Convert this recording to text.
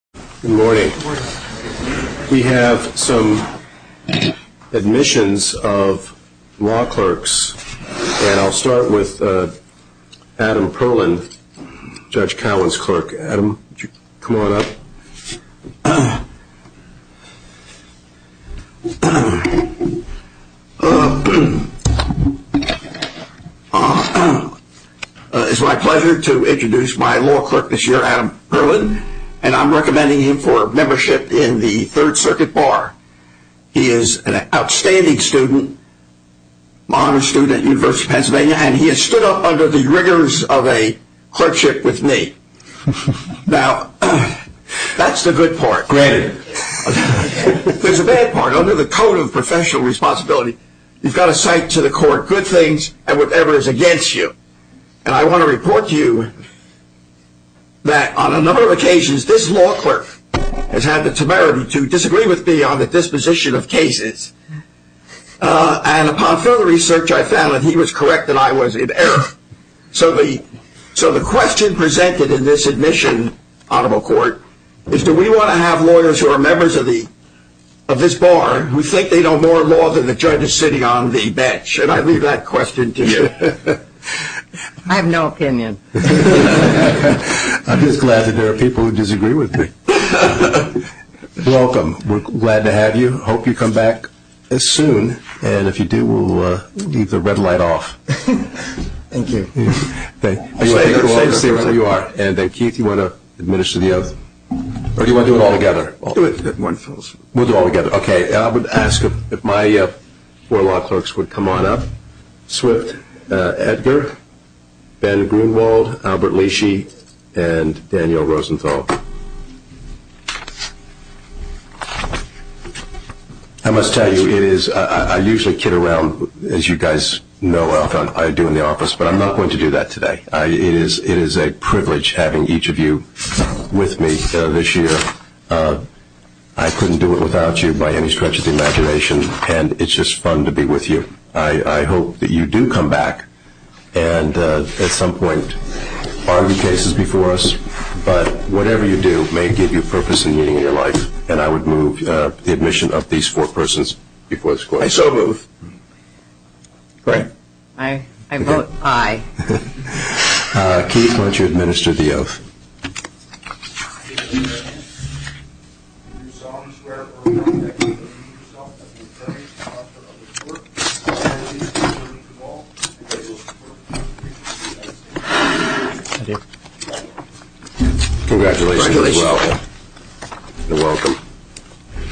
Good morning. We have some admissions of law clerks, and I'll start with Adam Perlin, Judge Cowen's clerk. Adam, would you come on up? It's my pleasure to introduce my law clerk this year, Adam Perlin, and I'm recommending him for membership in the Third Circuit Bar. He is an outstanding student, honors student at the University of Pennsylvania, and he has stood up under the rigors of a clerkship with me. Now, that's the good part. There's a bad part. Under the Code of Professional Responsibility, you've got to cite to the court good things and whatever is against you. And I want to report to you that on a number of occasions, this law clerk has had the temerity to disagree with me on the disposition of cases. And upon further research, I found that he was correct that I was in error. So the question presented in this admission, Honorable Court, is do we want to have lawyers who are members of this bar who think they know more law than the judge sitting on the bench? And I leave that question to you. I have no opinion. I'm just glad that there are people who disagree with me. Welcome. We're glad to have you. Hope you come back soon. And if you do, we'll leave the red light off. Thank you. Thank you. You are. And then, Keith, you want to administer the oath? Or do you want to do it all together? Do it in one fell swoop. We'll do it all together. Okay. I would ask if my four law clerks would come on up. Swift, Edgar, Ben Grunewald, Albert Leachy, and Daniel Rosenthal. I must tell you, I usually kid around, as you guys know, I do in the office. But I'm not going to do that today. It is a privilege having each of you with me this year. I couldn't do it without you by any stretch of the imagination. And it's just fun to be with you. I hope that you do come back and at some point argue cases before us. But whatever you do may give you purpose and meaning in your life. And I would move the admission of these four persons before this court. I so move. Great. I vote aye. Keith, why don't you administer the oath? Congratulations. You're welcome. You're welcome.